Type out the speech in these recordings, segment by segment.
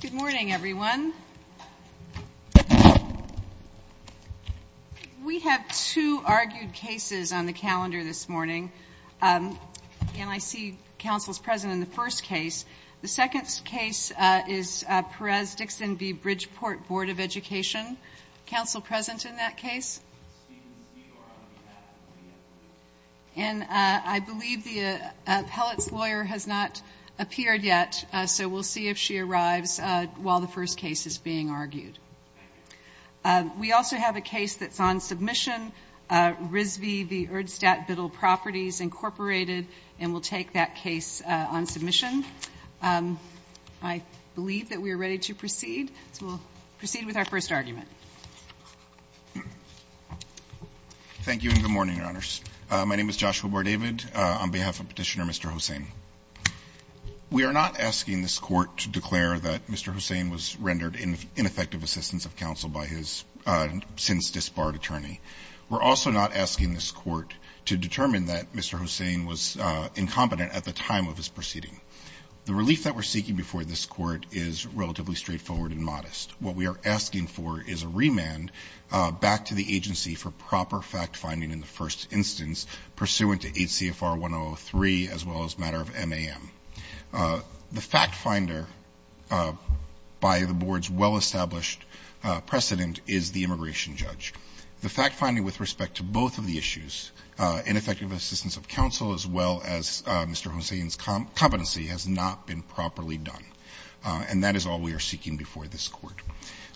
Good morning, everyone. We have two argued cases on the calendar this morning. And I see counsel's present in the first case. The second case is Perez-Dixon v. Bridgeport Board of Education. Counsel present in that case? And I believe the appellate's lawyer has not appeared yet, so we'll see if she arrives while the first case is being argued. We also have a case that's on submission, RISV v. Erdstadt Biddle Properties, Incorporated, and we'll take that case on submission. I believe that we are ready to proceed, so we'll proceed with our first argument. Bar-David Thank you, and good morning, Your Honors. My name is Joshua Bar-David. On behalf of Petitioner Mr. Hossain, we are not asking this Court to declare that Mr. Hossain was rendered ineffective assistance of counsel by his since disbarred attorney. We're also not asking this Court to determine that Mr. Hossain was incompetent at the time of his proceeding. The relief that we're seeking before this Court is relatively straightforward and modest. What we are asking for is a remand back to the agency for proper fact-finding in the first instance pursuant to 8 CFR 103 as well as matter of MAM. The fact-finder by the Board's well-established precedent is the immigration judge. The fact-finding with respect to both of the issues, ineffective assistance of counsel as well as Mr. Hossain's competency, has not been properly done. And that is all we are seeking before this Court.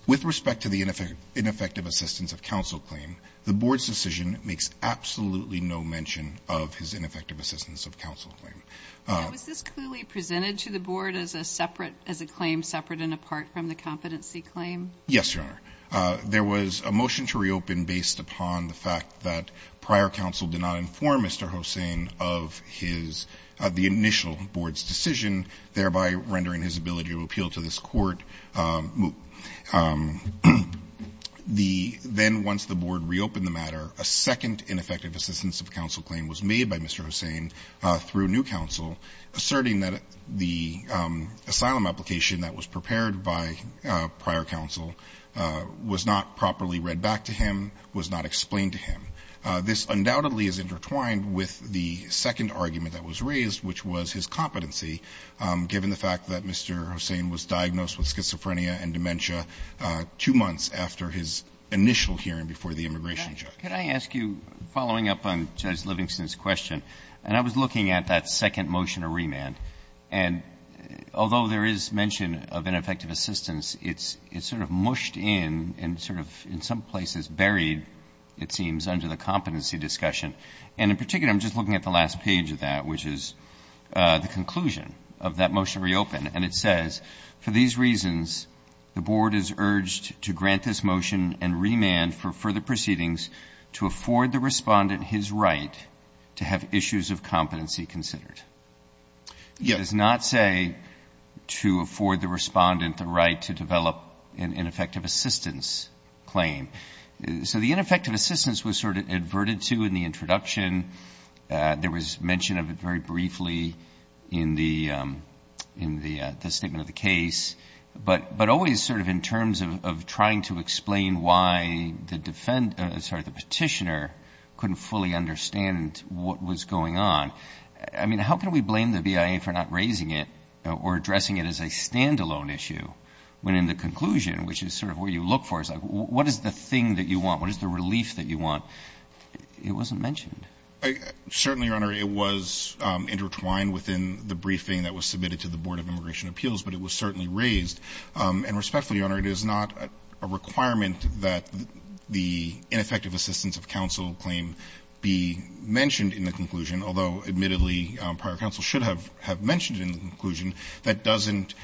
With respect to the ineffective assistance of counsel claim, the Board's decision makes absolutely no mention of his ineffective assistance of counsel claim. Now, was this clearly presented to the Board as a separate, Yes, Your Honor. There was a motion to reopen based upon the fact that prior counsel did not inform Mr. Hossain of his, the initial Board's decision, thereby rendering his ability to appeal to this Court. Then once the Board reopened the matter, a second ineffective assistance of counsel claim was made by Mr. Hossain through new counsel asserting that the asylum application that was prepared by prior counsel was not properly read back to him, was not explained to him. This undoubtedly is intertwined with the second argument that was raised, which was his competency, given the fact that Mr. Hossain was diagnosed with schizophrenia and dementia two months after his initial hearing before the immigration judge. Can I ask you, following up on Judge Livingston's question, and I was looking at that second motion of remand, and although there is mention of ineffective assistance, it's sort of mushed in and sort of in some places buried, it seems, under the competency discussion. And in particular, I'm just looking at the last page of that, which is the conclusion of that motion reopened. And it says, for these reasons the Board is urged to grant this motion and remand for further proceedings to afford the respondent his right to have issues of competency considered. It does not say to afford the respondent the right to develop an ineffective assistance claim. So the ineffective assistance was sort of adverted to in the introduction. There was mention of it very briefly in the statement of the case, but always sort of in terms of trying to explain why the petitioner couldn't fully understand what was going on. I mean, how can we blame the BIA for not raising it or addressing it as a standalone issue when in the conclusion, which is sort of where you look for, it's like, what is the thing that you want? What is the relief that you want? It wasn't mentioned. Certainly, Your Honor, it was intertwined within the briefing that was submitted to the Board of Immigration Appeals, but it was certainly raised. And respectfully, Your Honor, it is not a requirement that the ineffective assistance of counsel claim be mentioned in the conclusion, although admittedly, prior counsel should have mentioned it in the conclusion, that doesn't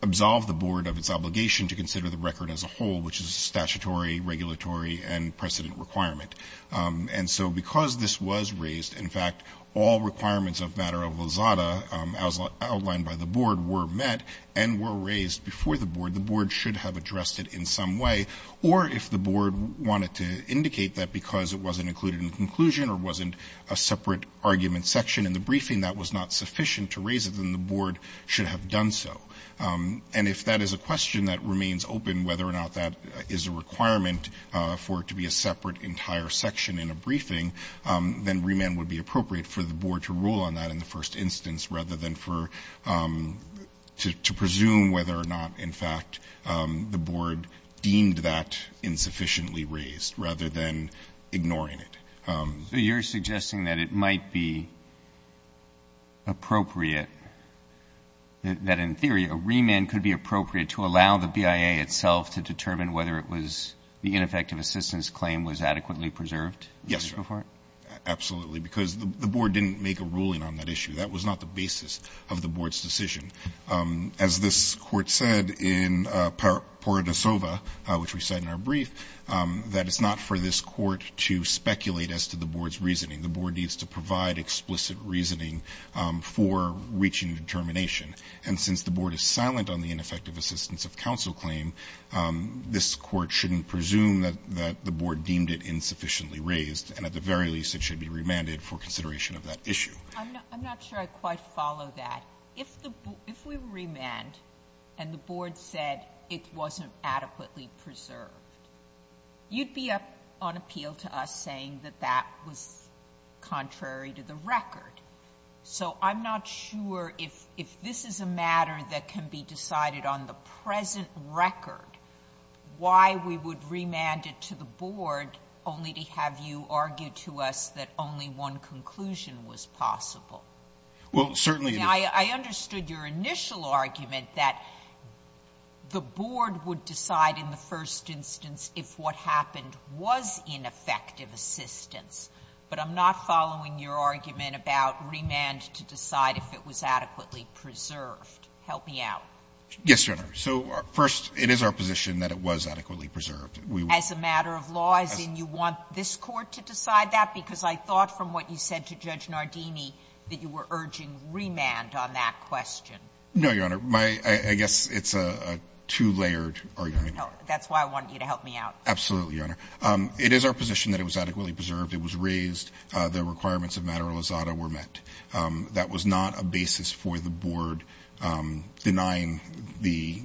absolve the Board of its obligation to consider the record as a whole, which is a statutory, regulatory, and precedent requirement. And so because this was raised, in fact, all requirements of matter of lazada outlined by the Board were met and were raised before the Board. The Board should have addressed it in some way, or if the Board wanted to indicate that because it wasn't included in the conclusion or wasn't a separate argument section in the briefing that was not sufficient to raise it, then the Board should have done so. And if that is a question that remains open, whether or not that is a requirement for it to be a separate entire section in a briefing, then remand would be appropriate for the Board to rule on that in the first instance, rather than for, to presume whether or not, in fact, the Board deemed that insufficiently raised, rather than ignoring it. Roberts. So you're suggesting that it might be appropriate, that in theory, a remand could be appropriate to allow the BIA itself to determine whether it was the ineffective assistance claim was adequately preserved? Yes, Your Honor. Absolutely. Because the Board didn't make a ruling on that issue. That was not the basis of the Board's decision. As this Court said in Paradosova, which we said in our brief, that it's not for this Court to speculate as to the Board's reasoning. The Board needs to provide explicit reasoning for reaching determination. And since the Board is silent on the ineffective assistance of counsel claim, this Court shouldn't presume that the Board deemed it insufficiently raised, and at the very least, it should be remanded for consideration of that issue. I'm not sure I quite follow that. If we were remanded and the Board said it wasn't adequately preserved, you'd be on appeal to us saying that that was contrary to the record. So I'm not sure if this is a matter that can be decided on the present record, why we would remand it to the Board only to have you argue to us that only one conclusion was possible. Well, certainly it is. Sotomayor, I understood your initial argument that the Board would decide in the first instance if what happened was ineffective assistance, but I'm not following your argument about remand to decide if it was adequately preserved. Help me out. Yes, Your Honor. So first, it is our position that it was adequately preserved. As a matter of law, as in you want this Court to decide that? Because I thought from what you said to Judge Nardini that you were urging remand on that question. No, Your Honor. I guess it's a two-layered argument. That's why I want you to help me out. Absolutely, Your Honor. It is our position that it was adequately preserved. It was raised. The requirements of matter lisada were met. That was not a basis for the Board denying the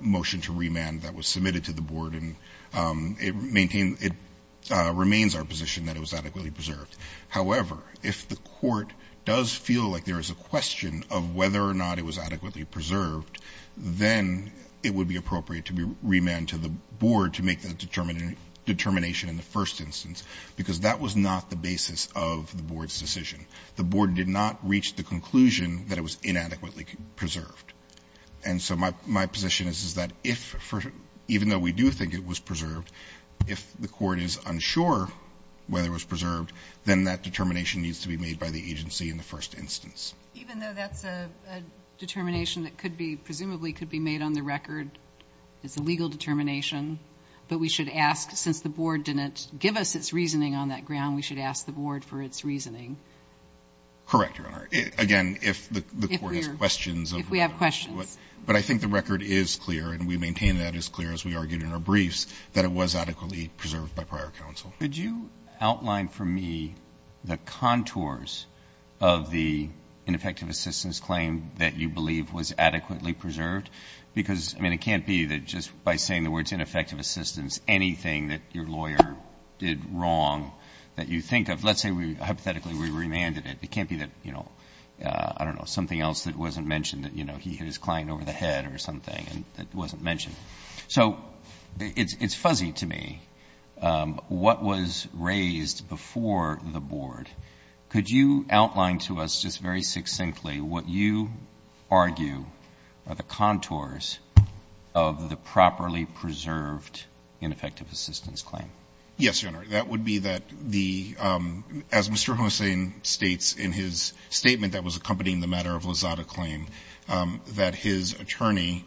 motion to remand that was submitted to the Board. And it remains our position that it was adequately preserved. However, if the Court does feel like there is a question of whether or not it was adequately preserved, then it would be appropriate to remand to the Board to make the determination in the first instance, because that was not the basis of the Board's decision. The Board did not reach the conclusion that it was inadequately preserved. And so my position is that even though we do think it was preserved, if the Court is unsure whether it was preserved, then that determination needs to be made by the agency in the first instance. Even though that's a determination that presumably could be made on the record as a legal determination, but we should ask, since the Board didn't give us its reasoning on that ground, we should ask the Board for its reasoning? Correct, Your Honor. Again, if the Court has questions. If we have questions. But I think the record is clear, and we maintain that as clear as we argued in our briefs, that it was adequately preserved by prior counsel. Could you outline for me the contours of the ineffective assistance claim that you believe was adequately preserved? Because, I mean, it can't be that just by saying the words ineffective assistance anything that your lawyer did wrong that you think of. Let's say hypothetically we remanded it. It can't be that, you know, I don't know, something else that wasn't mentioned, you know, he hit his client over the head or something that wasn't mentioned. So it's fuzzy to me what was raised before the Board. Could you outline to us just very succinctly what you argue are the contours of the properly preserved ineffective assistance claim? Yes, Your Honor. That would be that the, as Mr. Hossain states in his statement that was accompanying the matter of Lozada claim, that his attorney,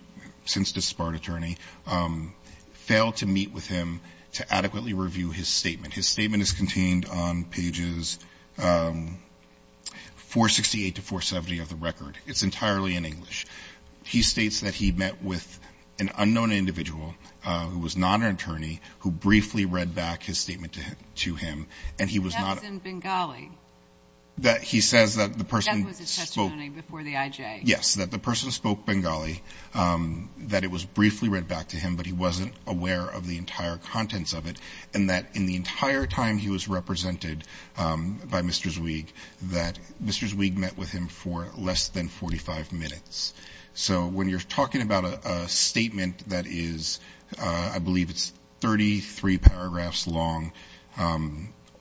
since disbarred attorney, failed to meet with him to adequately review his statement. His statement is contained on pages 468 to 470 of the record. It's entirely in English. He states that he met with an unknown individual who was not an attorney who briefly read back his statement to him, and he was not. That's in Bengali. He says that the person spoke. That was his testimony before the IJ. Yes, that the person spoke Bengali, that it was briefly read back to him, but he wasn't aware of the entire contents of it, and that in the entire time he was represented by Mr. Zweig that Mr. Zweig met with him for less than 45 minutes. So when you're talking about a statement that is, I believe it's 33 paragraphs long,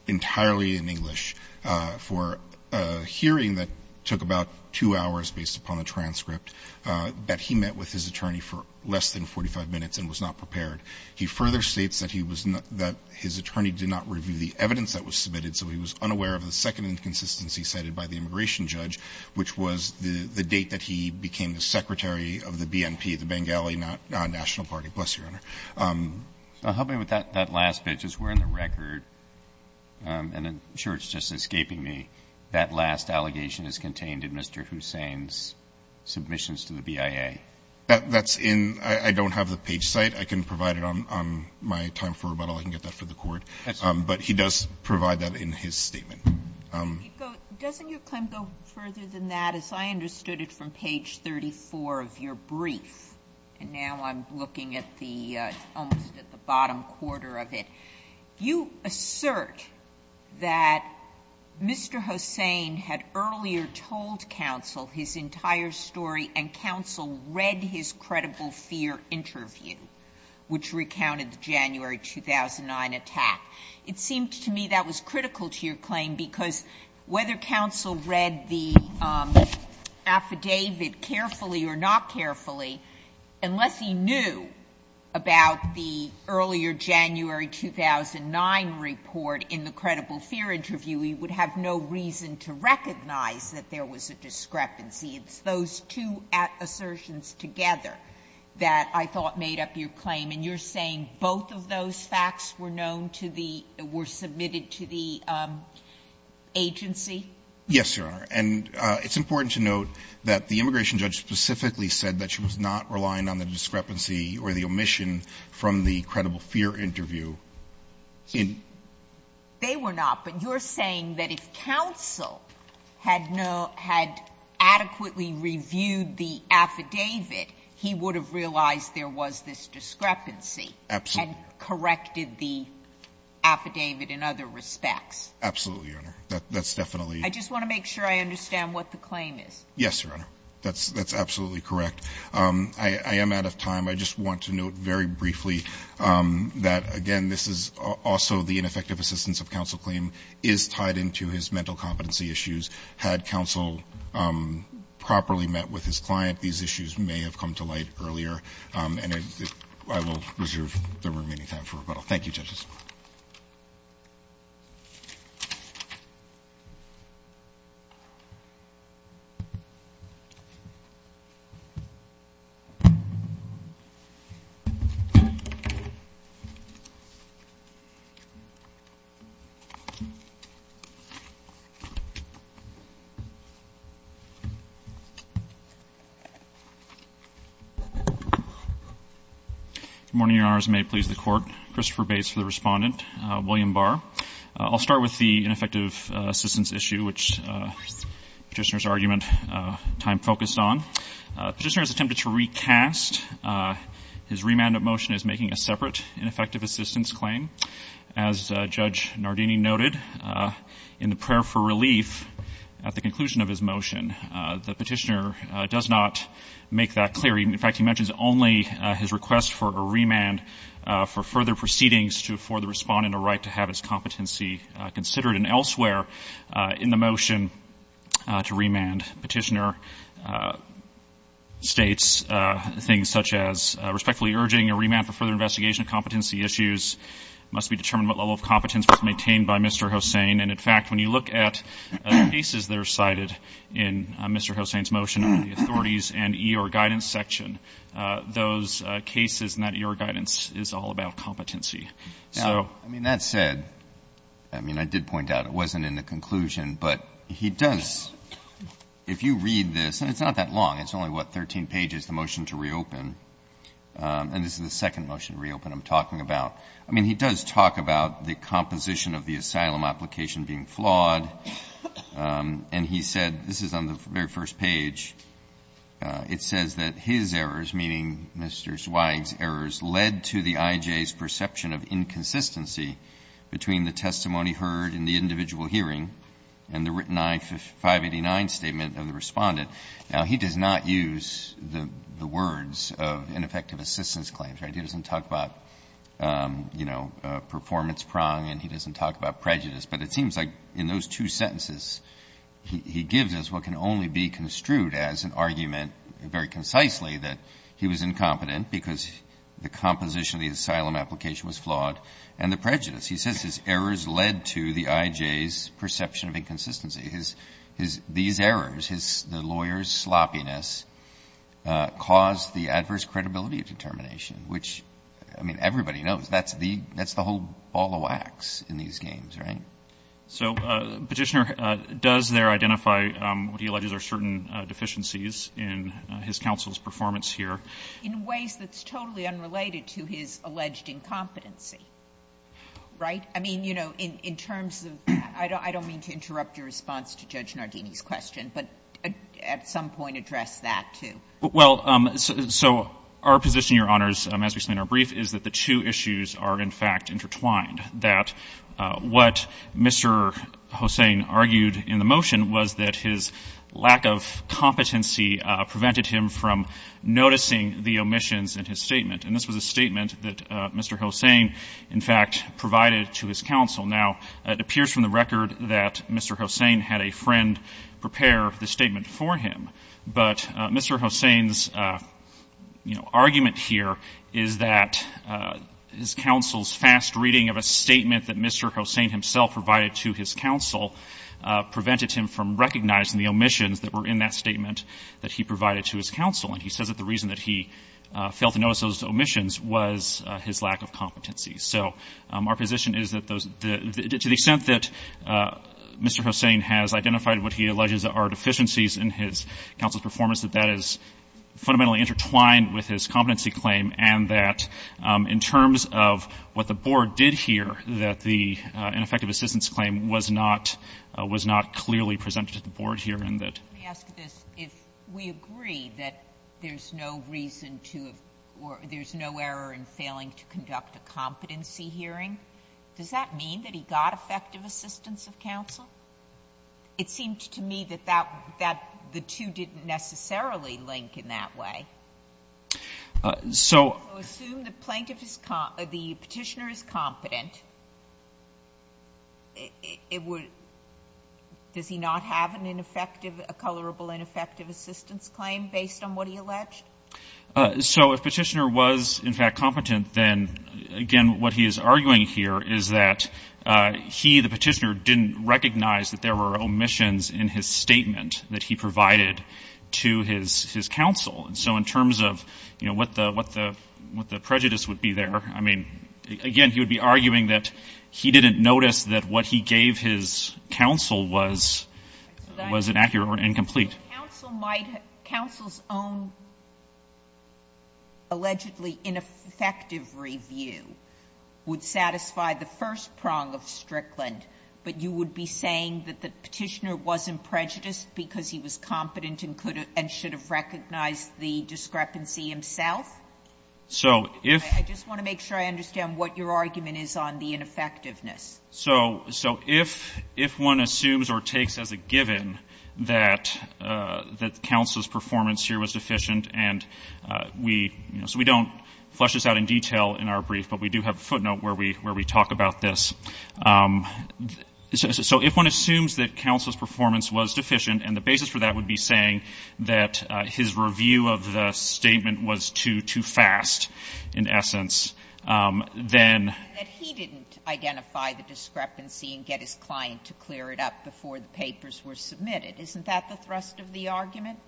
entirely in English, for a hearing that took about two hours based upon a transcript that he met with his attorney for less than 45 minutes and was not prepared. He further states that he was not, that his attorney did not review the evidence that was submitted, so he was unaware of the second inconsistency cited by the of the BNP, the Bengali non-national party. Bless your honor. Roberts. Help me with that last bit, because we're in the record, and I'm sure it's just escaping me, that last allegation is contained in Mr. Hussain's submissions to the BIA. That's in the, I don't have the page cite. I can provide it on my time for rebuttal. I can get that for the Court. But he does provide that in his statement. Doesn't your claim go further than that? As I understood it from page 34 of your brief, and now I'm looking at the, almost at the bottom quarter of it. You assert that Mr. Hussain had earlier told counsel his entire story and counsel read his credible fear interview, which recounted the January 2009 attack. It seemed to me that was critical to your claim, because whether counsel read the affidavit carefully or not carefully, unless he knew about the earlier January 2009 report in the credible fear interview, he would have no reason to recognize that there was a discrepancy. It's those two assertions together that I thought made up your claim. And you're saying both of those facts were known to the, were submitted to the agency? Yes, Your Honor. And it's important to note that the immigration judge specifically said that she was not relying on the discrepancy or the omission from the credible fear interview. They were not. But you're saying that if counsel had adequately reviewed the affidavit, he would have realized there was this discrepancy and corrected the affidavit in other respects? Absolutely, Your Honor. That's definitely. I just want to make sure I understand what the claim is. Yes, Your Honor. That's absolutely correct. I am out of time. I just want to note very briefly that, again, this is also the ineffective assistance of counsel claim is tied into his mental competency issues. Had counsel properly met with his client, these issues may have come to light earlier. And I will reserve the remaining time for rebuttal. Thank you, judges. Good morning, Your Honors, and may it please the Court. Christopher Bates for the Respondent. William Barr. I'll start with the ineffective assistance issue, which Petitioner's argument time focused on. Petitioner has attempted to recast. His remanded motion is making a separate ineffective assistance claim. As Judge Nardini noted in the prayer for relief at the conclusion of his motion, the Petitioner does not make that clear. In fact, he mentions only his request for a remand for further proceedings for the Respondent a right to have his competency considered. And elsewhere in the motion to remand, Petitioner states things such as must be determined what level of competence was maintained by Mr. Hossain. And, in fact, when you look at cases that are cited in Mr. Hossain's motion under the authorities and EOR guidance section, those cases and that EOR guidance is all about competency. I mean, that said, I mean, I did point out it wasn't in the conclusion, but he does, if you read this, and it's not that long. It's only, what, 13 pages, the motion to reopen. And this is the second motion to reopen I'm talking about. I mean, he does talk about the composition of the asylum application being flawed, and he said, this is on the very first page, it says that his errors, meaning Mr. Zweig's errors, led to the IJ's perception of inconsistency between the testimony heard in the individual hearing and the written I-589 statement of the Respondent. Now, he does not use the words of ineffective assistance claims. He doesn't talk about, you know, performance prong, and he doesn't talk about prejudice. But it seems like in those two sentences, he gives us what can only be construed as an argument, very concisely, that he was incompetent because the composition of the asylum application was flawed and the prejudice. He says his errors led to the IJ's perception of inconsistency. These errors, the lawyer's sloppiness, caused the adverse credibility determination, which, I mean, everybody knows. That's the whole ball of wax in these games, right? So, Petitioner, does there identify what he alleges are certain deficiencies in his counsel's performance here? In ways that's totally unrelated to his alleged incompetency, right? I mean, you know, in terms of that, I don't mean to interrupt your response to Judge Nardini's question, but at some point address that, too. Well, so our position, Your Honors, as we explain in our brief, is that the two issues are, in fact, intertwined. That what Mr. Hossain argued in the motion was that his lack of competency prevented him from noticing the omissions in his statement. And this was a statement that Mr. Hossain, in fact, provided to his counsel. Now, it appears from the record that Mr. Hossain had a friend prepare the statement for him, but Mr. Hossain's, you know, argument here is that his counsel's fast reading of a statement that Mr. Hossain himself provided to his counsel prevented him from recognizing the omissions that were in that statement that he provided to his counsel. And he says that the reason that he failed to notice those omissions was his lack of competency. So our position is that to the extent that Mr. Hossain has identified what he alleges are deficiencies in his counsel's performance, that that is fundamentally intertwined with his competency claim, and that in terms of what the Board did here, that the ineffective assistance claim was not clearly presented to the Board here in that. Sotomayor. Let me ask this. If we agree that there's no reason to have or there's no error in failing to conduct a competency hearing, does that mean that he got effective assistance of counsel? It seemed to me that that, that the two didn't necessarily link in that way. So assume the plaintiff is, the Petitioner is competent, it would, does he not have an ineffective, a colorable ineffective assistance claim based on what he alleged? So if Petitioner was, in fact, competent, then, again, what he is arguing here is that he, the Petitioner, didn't recognize that there were omissions in his statement that he provided to his counsel. And so in terms of, you know, what the prejudice would be there, I mean, again, he would be arguing that he didn't notice that what he gave his counsel was, was inaccurate or incomplete. Counsel might, counsel's own allegedly ineffective review would satisfy the first prong of Strickland. But you would be saying that the Petitioner wasn't prejudiced because he was competent and could and should have recognized the discrepancy himself? So if. I just want to make sure I understand what your argument is on the ineffectiveness. So, so if, if one assumes or takes as a given that, that counsel's performance here was deficient and we, you know, so we don't flesh this out in detail in our brief, but we do have a footnote where we, where we talk about this. So if one assumes that counsel's performance was deficient and the basis for that would be saying that his review of the statement was too, too fast, in essence, then. That he didn't identify the discrepancy and get his client to clear it up before the papers were submitted. Isn't that the thrust of the argument?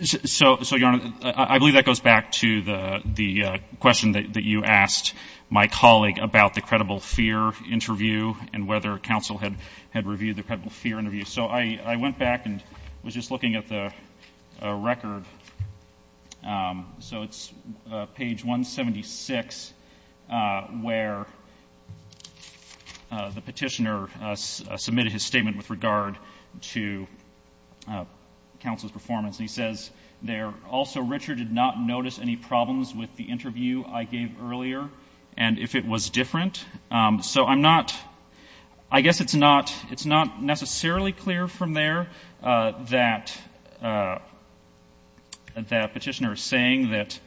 So, so Your Honor, I believe that goes back to the, the question that, that you asked my colleague about the credible fear interview and whether counsel had, had reviewed the credible fear interview. So I, I went back and was just looking at the record. So it's page 176 where the Petitioner submitted his statement with regard to the counsel's performance. And he says there, also Richard did not notice any problems with the interview I gave earlier and if it was different. So I'm not, I guess it's not, it's not necessarily clear from there that, that Petitioner is saying that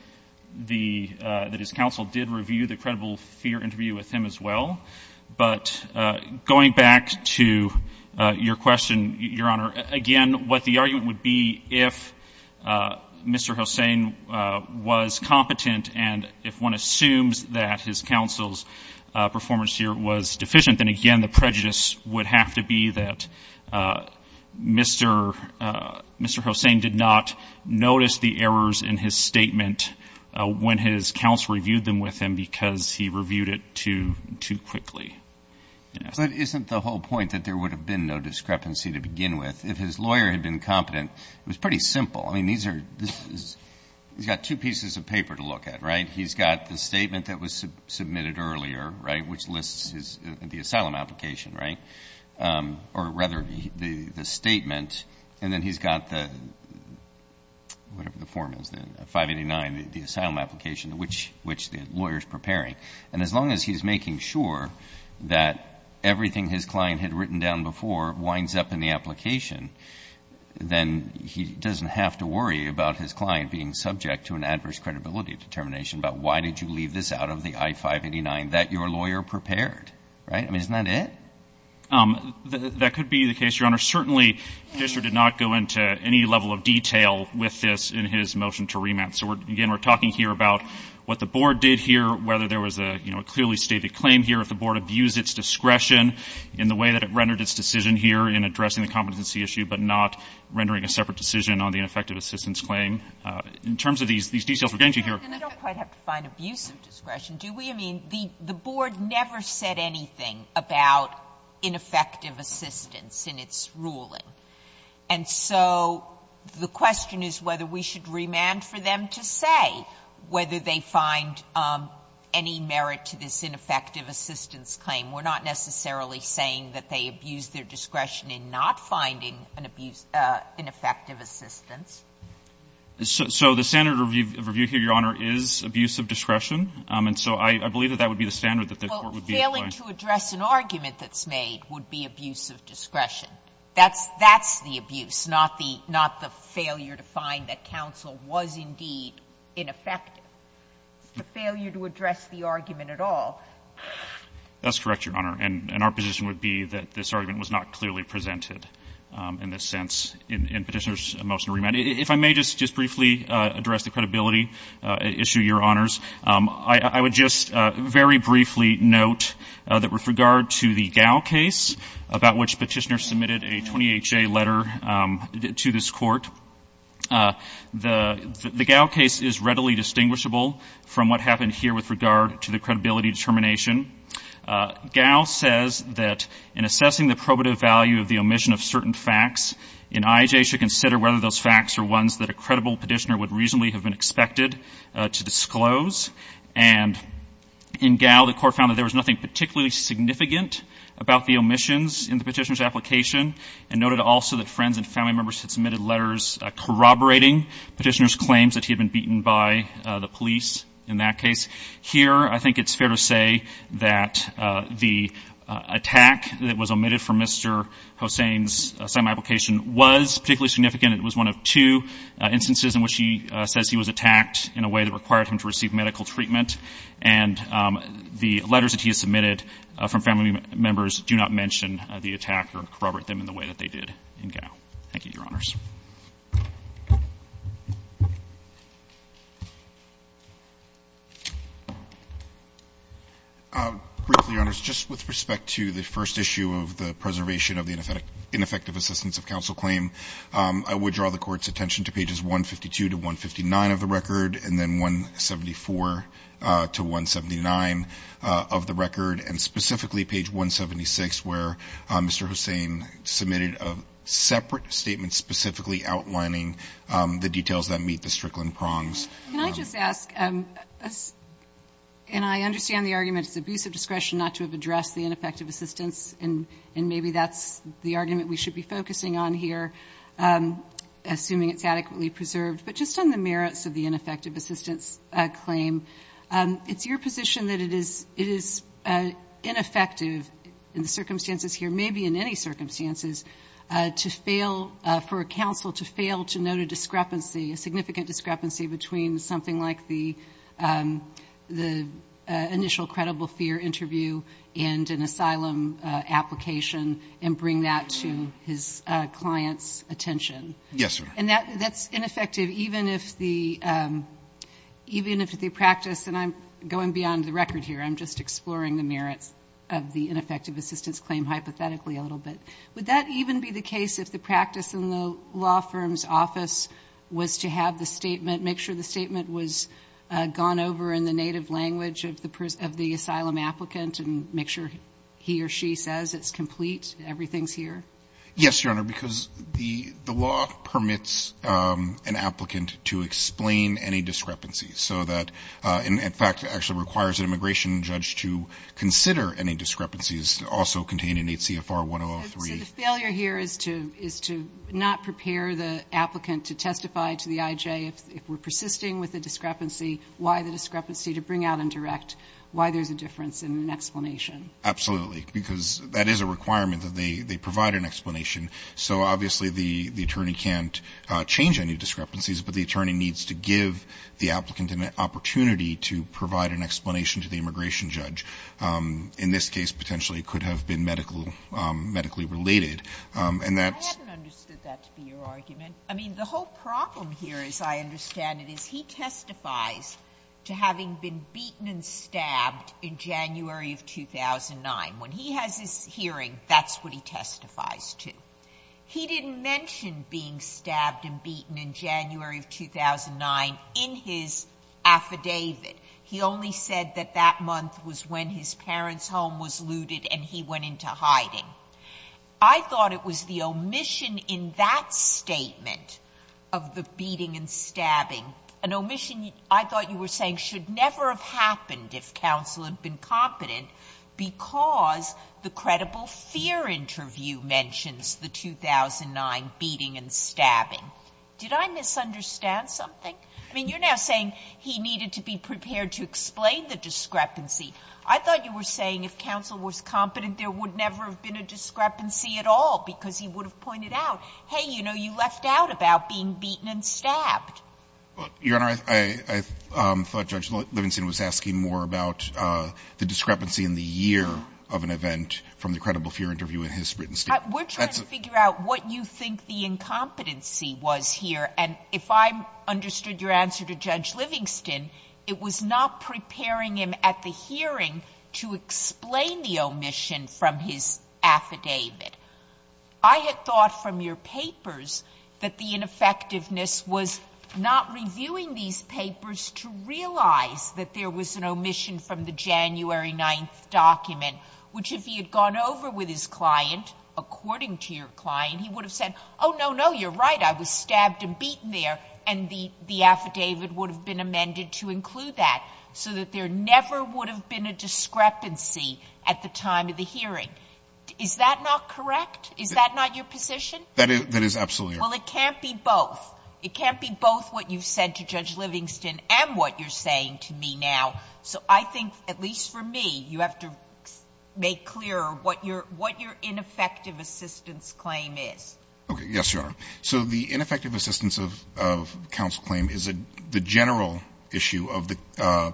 the, that his counsel did review the credible fear interview with him as well. But going back to your question, Your Honor, again, what the argument would be if Mr. Hossain was competent and if one assumes that his counsel's performance here was deficient, then again, the prejudice would have to be that Mr., Mr. Hossain did not notice the errors in his statement when his counsel reviewed them with him because he reviewed it too, too quickly. But isn't the whole point that there would have been no discrepancy to begin with? If his lawyer had been competent, it was pretty simple. I mean, these are, this is, he's got two pieces of paper to look at, right? He's got the statement that was submitted earlier, right? Which lists his, the asylum application, right? Or rather the, the, the statement. And then he's got the, whatever the form is then, 589, the, the asylum application which, which the lawyer's preparing. And as long as he's making sure that everything his client had written down before winds up in the application, then he doesn't have to worry about his client being subject to an adverse credibility determination about why did you leave this out of the I-589 that your lawyer prepared, right? I mean, isn't that it? That could be the case, Your Honor. Certainly, the judge did not go into any level of detail with this in his motion to remand. So again, we're talking here about what the board did here, whether there was a, you know, a clearly stated claim here, if the board abused its discretion in the way that it rendered its decision here in addressing the competency issue, but not rendering a separate decision on the ineffective assistance claim. In terms of these, these details we're getting to here. Sotomayor, and I don't quite have to find abusive discretion, do we? I mean, the, the board never said anything about ineffective assistance in its ruling. And so the question is whether we should remand for them to say whether they find any merit to this ineffective assistance claim. We're not necessarily saying that they abused their discretion in not finding an abuse of ineffective assistance. So the standard of review here, Your Honor, is abusive discretion. And so I believe that that would be the standard that the court would be applying. Well, failing to address an argument that's made would be abusive discretion. That's, that's the abuse, not the, not the failure to find that counsel was indeed ineffective. It's the failure to address the argument at all. That's correct, Your Honor. And our position would be that this argument was not clearly presented in this sense in Petitioner's motion to remand. If I may just briefly address the credibility issue, Your Honors, I would just very briefly note that with regard to the Gao case, about which Petitioner submitted a 20HA letter to this court, the, the Gao case is readily distinguishable from what happened here with regard to the credibility determination. Gao says that in assessing the probative value of the omission of certain facts, an IJ should consider whether those facts are ones that a credible petitioner would reasonably have been expected to disclose. And in Gao, the court found that there was nothing particularly significant about the omissions in the petitioner's application, and noted also that friends and family members had submitted letters corroborating petitioner's claims that he had been beaten by the police in that case. Here, I think it's fair to say that the attack that was omitted from Mr. Hossain's semi-application was particularly significant. It was one of two instances in which he says he was attacked in a way that required him to receive medical treatment, and the letters that he has submitted from family members do not mention the attack or corroborate them in the way that they did in Gao. Thank you, Your Honors. Briefly, Your Honors, just with respect to the first issue of the preservation of the ineffective assistance of counsel claim, I would draw the court's attention to pages 152 to 159 of the record, and then 174 to 179 of the record, and specifically page 176, where Mr. Hossain submitted a separate statement specifically outlining the details that meet the Strickland prongs. Can I just ask, and I understand the argument it's abuse of discretion not to have addressed the ineffective assistance, and maybe that's the argument we should be focusing on here, assuming it's adequately preserved, but just on the merits of the ineffective assistance claim, it's your position that it is ineffective in the circumstances here, maybe in any circumstances, for a counsel to fail to note a discrepancy, a significant discrepancy between something like the initial credible fear interview and an asylum application, and bring that to his client's attention. Yes, sir. And that's ineffective even if the practice, and I'm going beyond the record here, I'm just exploring the merits of the ineffective assistance claim hypothetically a little bit. Would that even be the case if the practice in the law firm's office was to have the statement, make sure the statement was gone over in the native language of the asylum applicant, and make sure he or she says it's complete, everything's here? Yes, Your Honor, because the law permits an applicant to explain any discrepancy so that, in fact, it actually requires an immigration judge to consider any discrepancies also contained in 8 CFR 1003. So the failure here is to not prepare the applicant to testify to the IJ if we're persisting with the discrepancy, why the discrepancy, to bring out and direct why there's a difference in an explanation. Absolutely. Because that is a requirement that they provide an explanation. So obviously the attorney can't change any discrepancies, but the attorney needs to give the applicant an opportunity to provide an explanation to the immigration judge. In this case, potentially, it could have been medically related. And that's ---- I haven't understood that to be your argument. I mean, the whole problem here, as I understand it, is he testifies to having been beaten and stabbed in January of 2009. When he has his hearing, that's what he testifies to. He didn't mention being stabbed and beaten in January of 2009 in his affidavit. He only said that that month was when his parents' home was looted and he went into hiding. I thought it was the omission in that statement of the beating and stabbing, an that would never have happened if counsel had been competent because the credible fear interview mentions the 2009 beating and stabbing. Did I misunderstand something? I mean, you're now saying he needed to be prepared to explain the discrepancy. I thought you were saying if counsel was competent, there would never have been a discrepancy at all because he would have pointed out, hey, you know, you left out about being incompetent. I thought you were saying that the discrepancy in the year of an event from the credible fear interview in his written statement. We're trying to figure out what you think the incompetency was here, and if I understood your answer to Judge Livingston, it was not preparing him at the hearing to explain the omission from his affidavit. I had thought from your papers that the ineffectiveness was not reviewing these papers to realize that there was an omission from the January 9th document, which if he had gone over with his client, according to your client, he would have said, oh, no, no, you're right, I was stabbed and beaten there, and the affidavit would have been amended to include that so that there never would have been a discrepancy at the time of the hearing. Is that not correct? Is that not your position? That is absolutely right. Well, it can't be both. It can't be both what you've said to Judge Livingston and what you're saying to me now. So I think, at least for me, you have to make clear what your ineffective assistance claim is. Okay. Yes, Your Honor. So the ineffective assistance of counsel claim is the general issue of the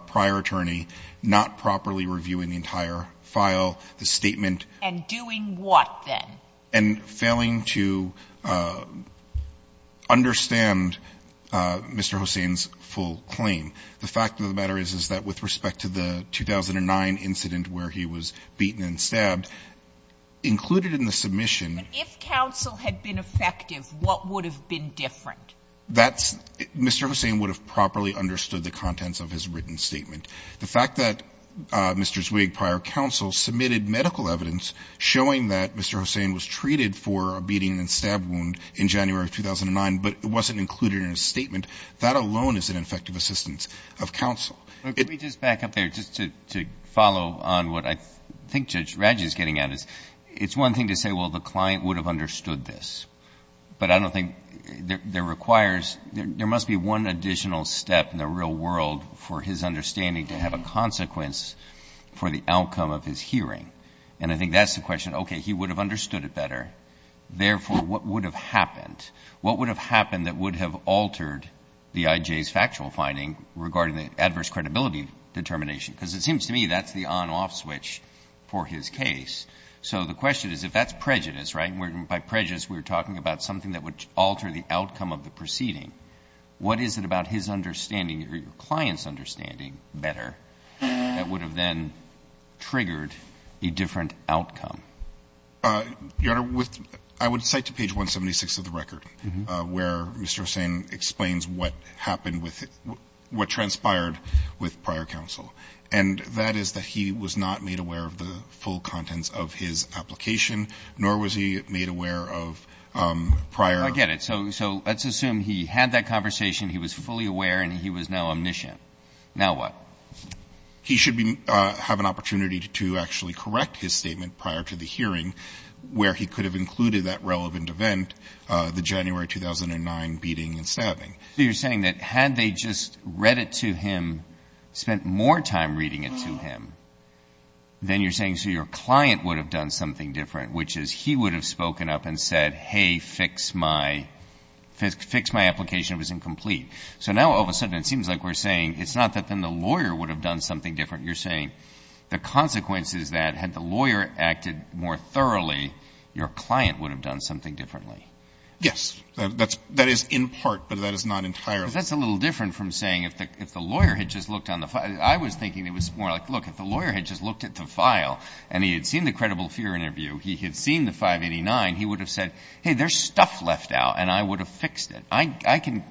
prior attorney not properly reviewing the entire file, the statement. And doing what, then? And failing to understand Mr. Hossain's full claim. The fact of the matter is, is that with respect to the 2009 incident where he was beaten and stabbed, included in the submission. But if counsel had been effective, what would have been different? That's Mr. Hossain would have properly understood the contents of his written statement. The fact that Mr. Zweig, prior counsel, submitted medical evidence showing that Mr. Hossain was treated for a beating and stab wound in January of 2009, but it wasn't included in his statement, that alone is an ineffective assistance of counsel. Let me just back up there, just to follow on what I think Judge Raggi is getting at. It's one thing to say, well, the client would have understood this. But I don't think there requires — there must be one additional step in the real world for his understanding to have a consequence for the outcome of his hearing. And I think that's the question. Okay, he would have understood it better. Therefore, what would have happened? What would have happened that would have altered the IJ's factual finding regarding the adverse credibility determination? Because it seems to me that's the on-off switch for his case. So the question is, if that's prejudice, right, and by prejudice we're talking about something that would alter the outcome of the proceeding, what is it about his understanding or your client's understanding better that would have then triggered a different outcome? Your Honor, with — I would cite to page 176 of the record where Mr. Hussain explains what happened with — what transpired with prior counsel. And that is that he was not made aware of the full contents of his application, nor was he made aware of prior — I get it. So let's assume he had that conversation, he was fully aware, and he was now omniscient. Now what? He should have an opportunity to actually correct his statement prior to the hearing where he could have included that relevant event, the January 2009 beating and stabbing. So you're saying that had they just read it to him, spent more time reading it to him, then you're saying, so your client would have done something different, which is he would have spoken up and said, hey, fix my — fix my application. It was incomplete. So now all of a sudden it seems like we're saying it's not that then the lawyer would have done something different. You're saying the consequence is that had the lawyer acted more thoroughly, your client would have done something differently. Yes. That is in part, but that is not entirely. But that's a little different from saying if the lawyer had just looked on the — I was thinking it was more like, look, if the lawyer had just looked at the file and he had seen the credible fear interview, he had seen the 589, he would have said, hey, there's stuff left out and I would have fixed it. I can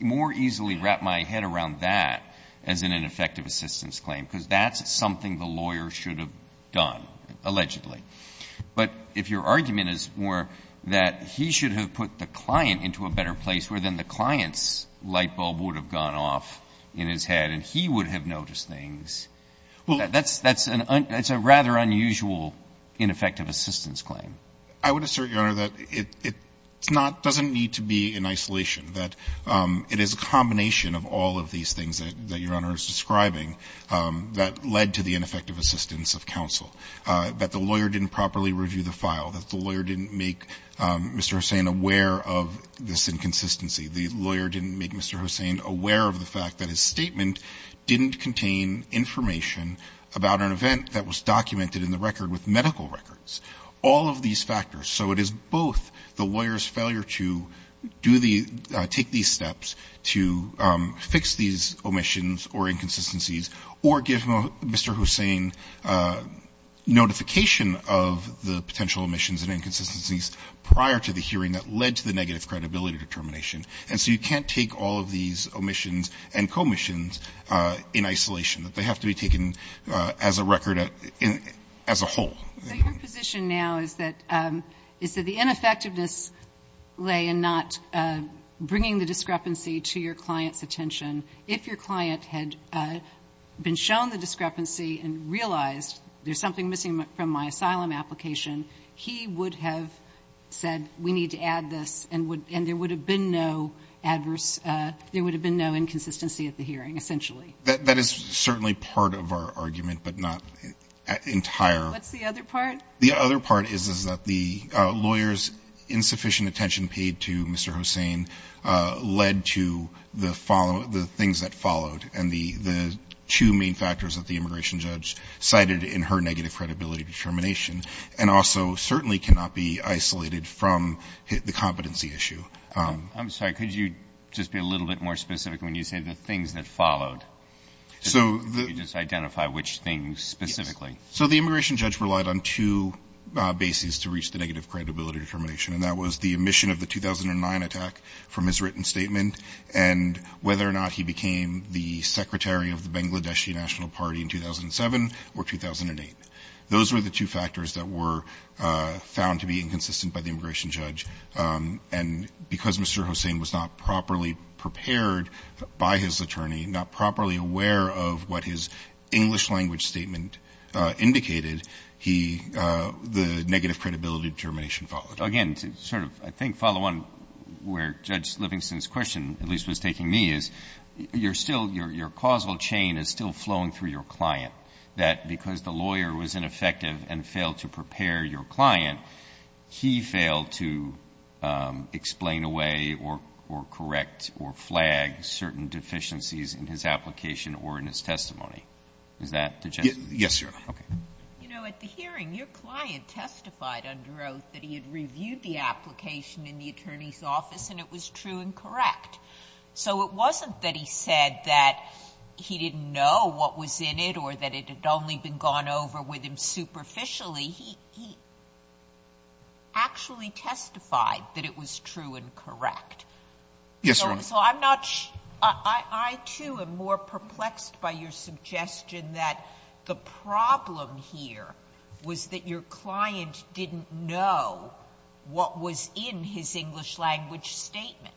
more easily wrap my head around that as an ineffective assistance claim because that's something the lawyer should have done, allegedly. But if your argument is more that he should have put the client into a better place where then the client's light bulb would have gone off in his head and he would have noticed things, that's a rather unusual ineffective assistance claim. I would assert, Your Honor, that it doesn't need to be in isolation, that it is a combination of all of these things that Your Honor is describing that led to the ineffective assistance of counsel, that the lawyer didn't properly review the file, that the lawyer didn't make Mr. Hussain aware of this inconsistency, the lawyer didn't make Mr. Hussain aware of the fact that his statement didn't contain information about an event that was documented in the record with medical records. All of these factors. So it is both the lawyer's failure to take these steps to fix these omissions or inconsistencies or give Mr. Hussain notification of the potential omissions and inconsistencies prior to the hearing that led to the negative credibility determination. And so you can't take all of these omissions and commissions in isolation. They have to be taken as a record as a whole. So your position now is that the ineffectiveness lay in not bringing the discrepancy to your client's attention. If your client had been shown the discrepancy and realized there's something missing from my asylum application, he would have said we need to add this and there would have been no inconsistency at the hearing, essentially. That is certainly part of our argument, but not entire. What's the other part? The other part is that the lawyer's insufficient attention paid to Mr. Hussain led to the things that followed and the two main factors that the immigration judge cited in her negative credibility determination and also certainly cannot be isolated from the competency issue. I'm sorry. Could you just be a little bit more specific when you say the things that followed? Could you just identify which things specifically? So the immigration judge relied on two bases to reach the negative credibility determination, and that was the omission of the 2009 attack from his written statement and whether or not he became the secretary of the Bangladeshi National Party in 2007 or 2008. Those were the two factors that were found to be inconsistent by the immigration judge, and because Mr. Hussain was not properly prepared by his attorney, not properly aware of what his English language statement indicated, the negative credibility determination followed. Again, to sort of I think follow on where Judge Livingston's question at least was taking me is, your causal chain is still flowing through your client, that because the lawyer was ineffective and failed to prepare your client, he failed to explain away or correct or flag certain deficiencies in his application or in his testimony. Is that the gist of it? Yes, sir. Okay. You know, at the hearing, your client testified under oath that he had reviewed the application in the attorney's office and it was true and correct. So it wasn't that he said that he didn't know what was in it or that it had only been gone over with him superficially. He actually testified that it was true and correct. Yes, Your Honor. So I'm not sure. I, too, am more perplexed by your suggestion that the problem here was that your client didn't know what was in his English language statement.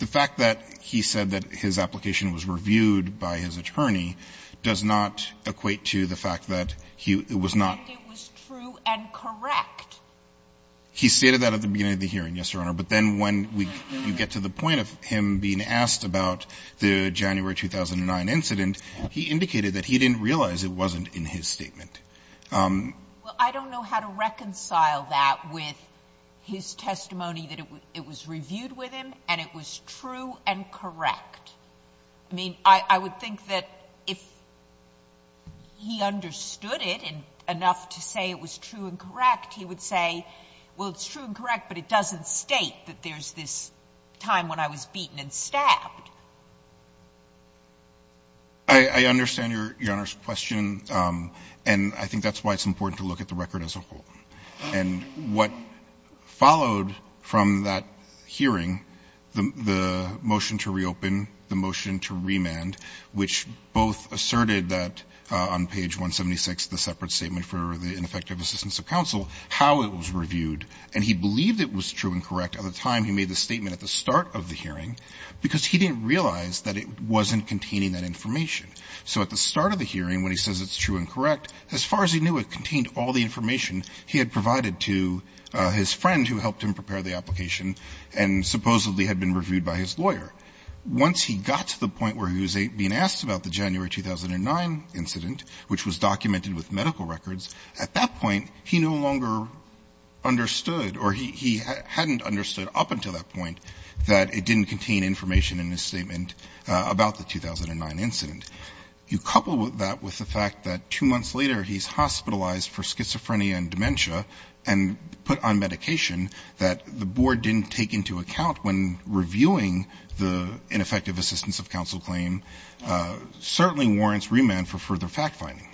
The fact that he said that his application was reviewed by his attorney does not equate to the fact that he was not. And it was true and correct. He stated that at the beginning of the hearing, yes, Your Honor. But then when you get to the point of him being asked about the January 2009 incident, he indicated that he didn't realize it wasn't in his statement. Well, I don't know how to reconcile that with his testimony that it was reviewed with him and it was true and correct. I mean, I would think that if he understood it enough to say it was true and correct, he would say, well, it's true and correct, but it doesn't state that there's this time when I was beaten and stabbed. I understand Your Honor's question. And I think that's why it's important to look at the record as a whole. And what followed from that hearing, the motion to reopen, the motion to remand, which both asserted that on page 176, the separate statement for the ineffective assistance of counsel, how it was reviewed, and he believed it was true and correct at the time he made the statement at the start of the hearing because he didn't realize that it wasn't containing that information. So at the start of the hearing when he says it's true and correct, as far as he knew it contained all the information he had provided to his friend who helped him prepare the application and supposedly had been reviewed by his lawyer. Once he got to the point where he was being asked about the January 2009 incident, which was documented with medical records, at that point he no longer understood or he hadn't understood up until that point that it didn't contain information in his statement about the 2009 incident. You couple that with the fact that two months later he's hospitalized for schizophrenia and dementia and put on medication that the board didn't take into account when reviewing the ineffective assistance of counsel claim certainly warrants remand for further fact-finding.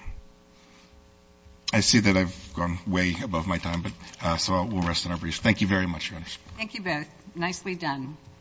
I see that I've gone way above my time, but so we'll rest on our breeze. Thank you very much, Your Honor. Thank you both. Nicely done.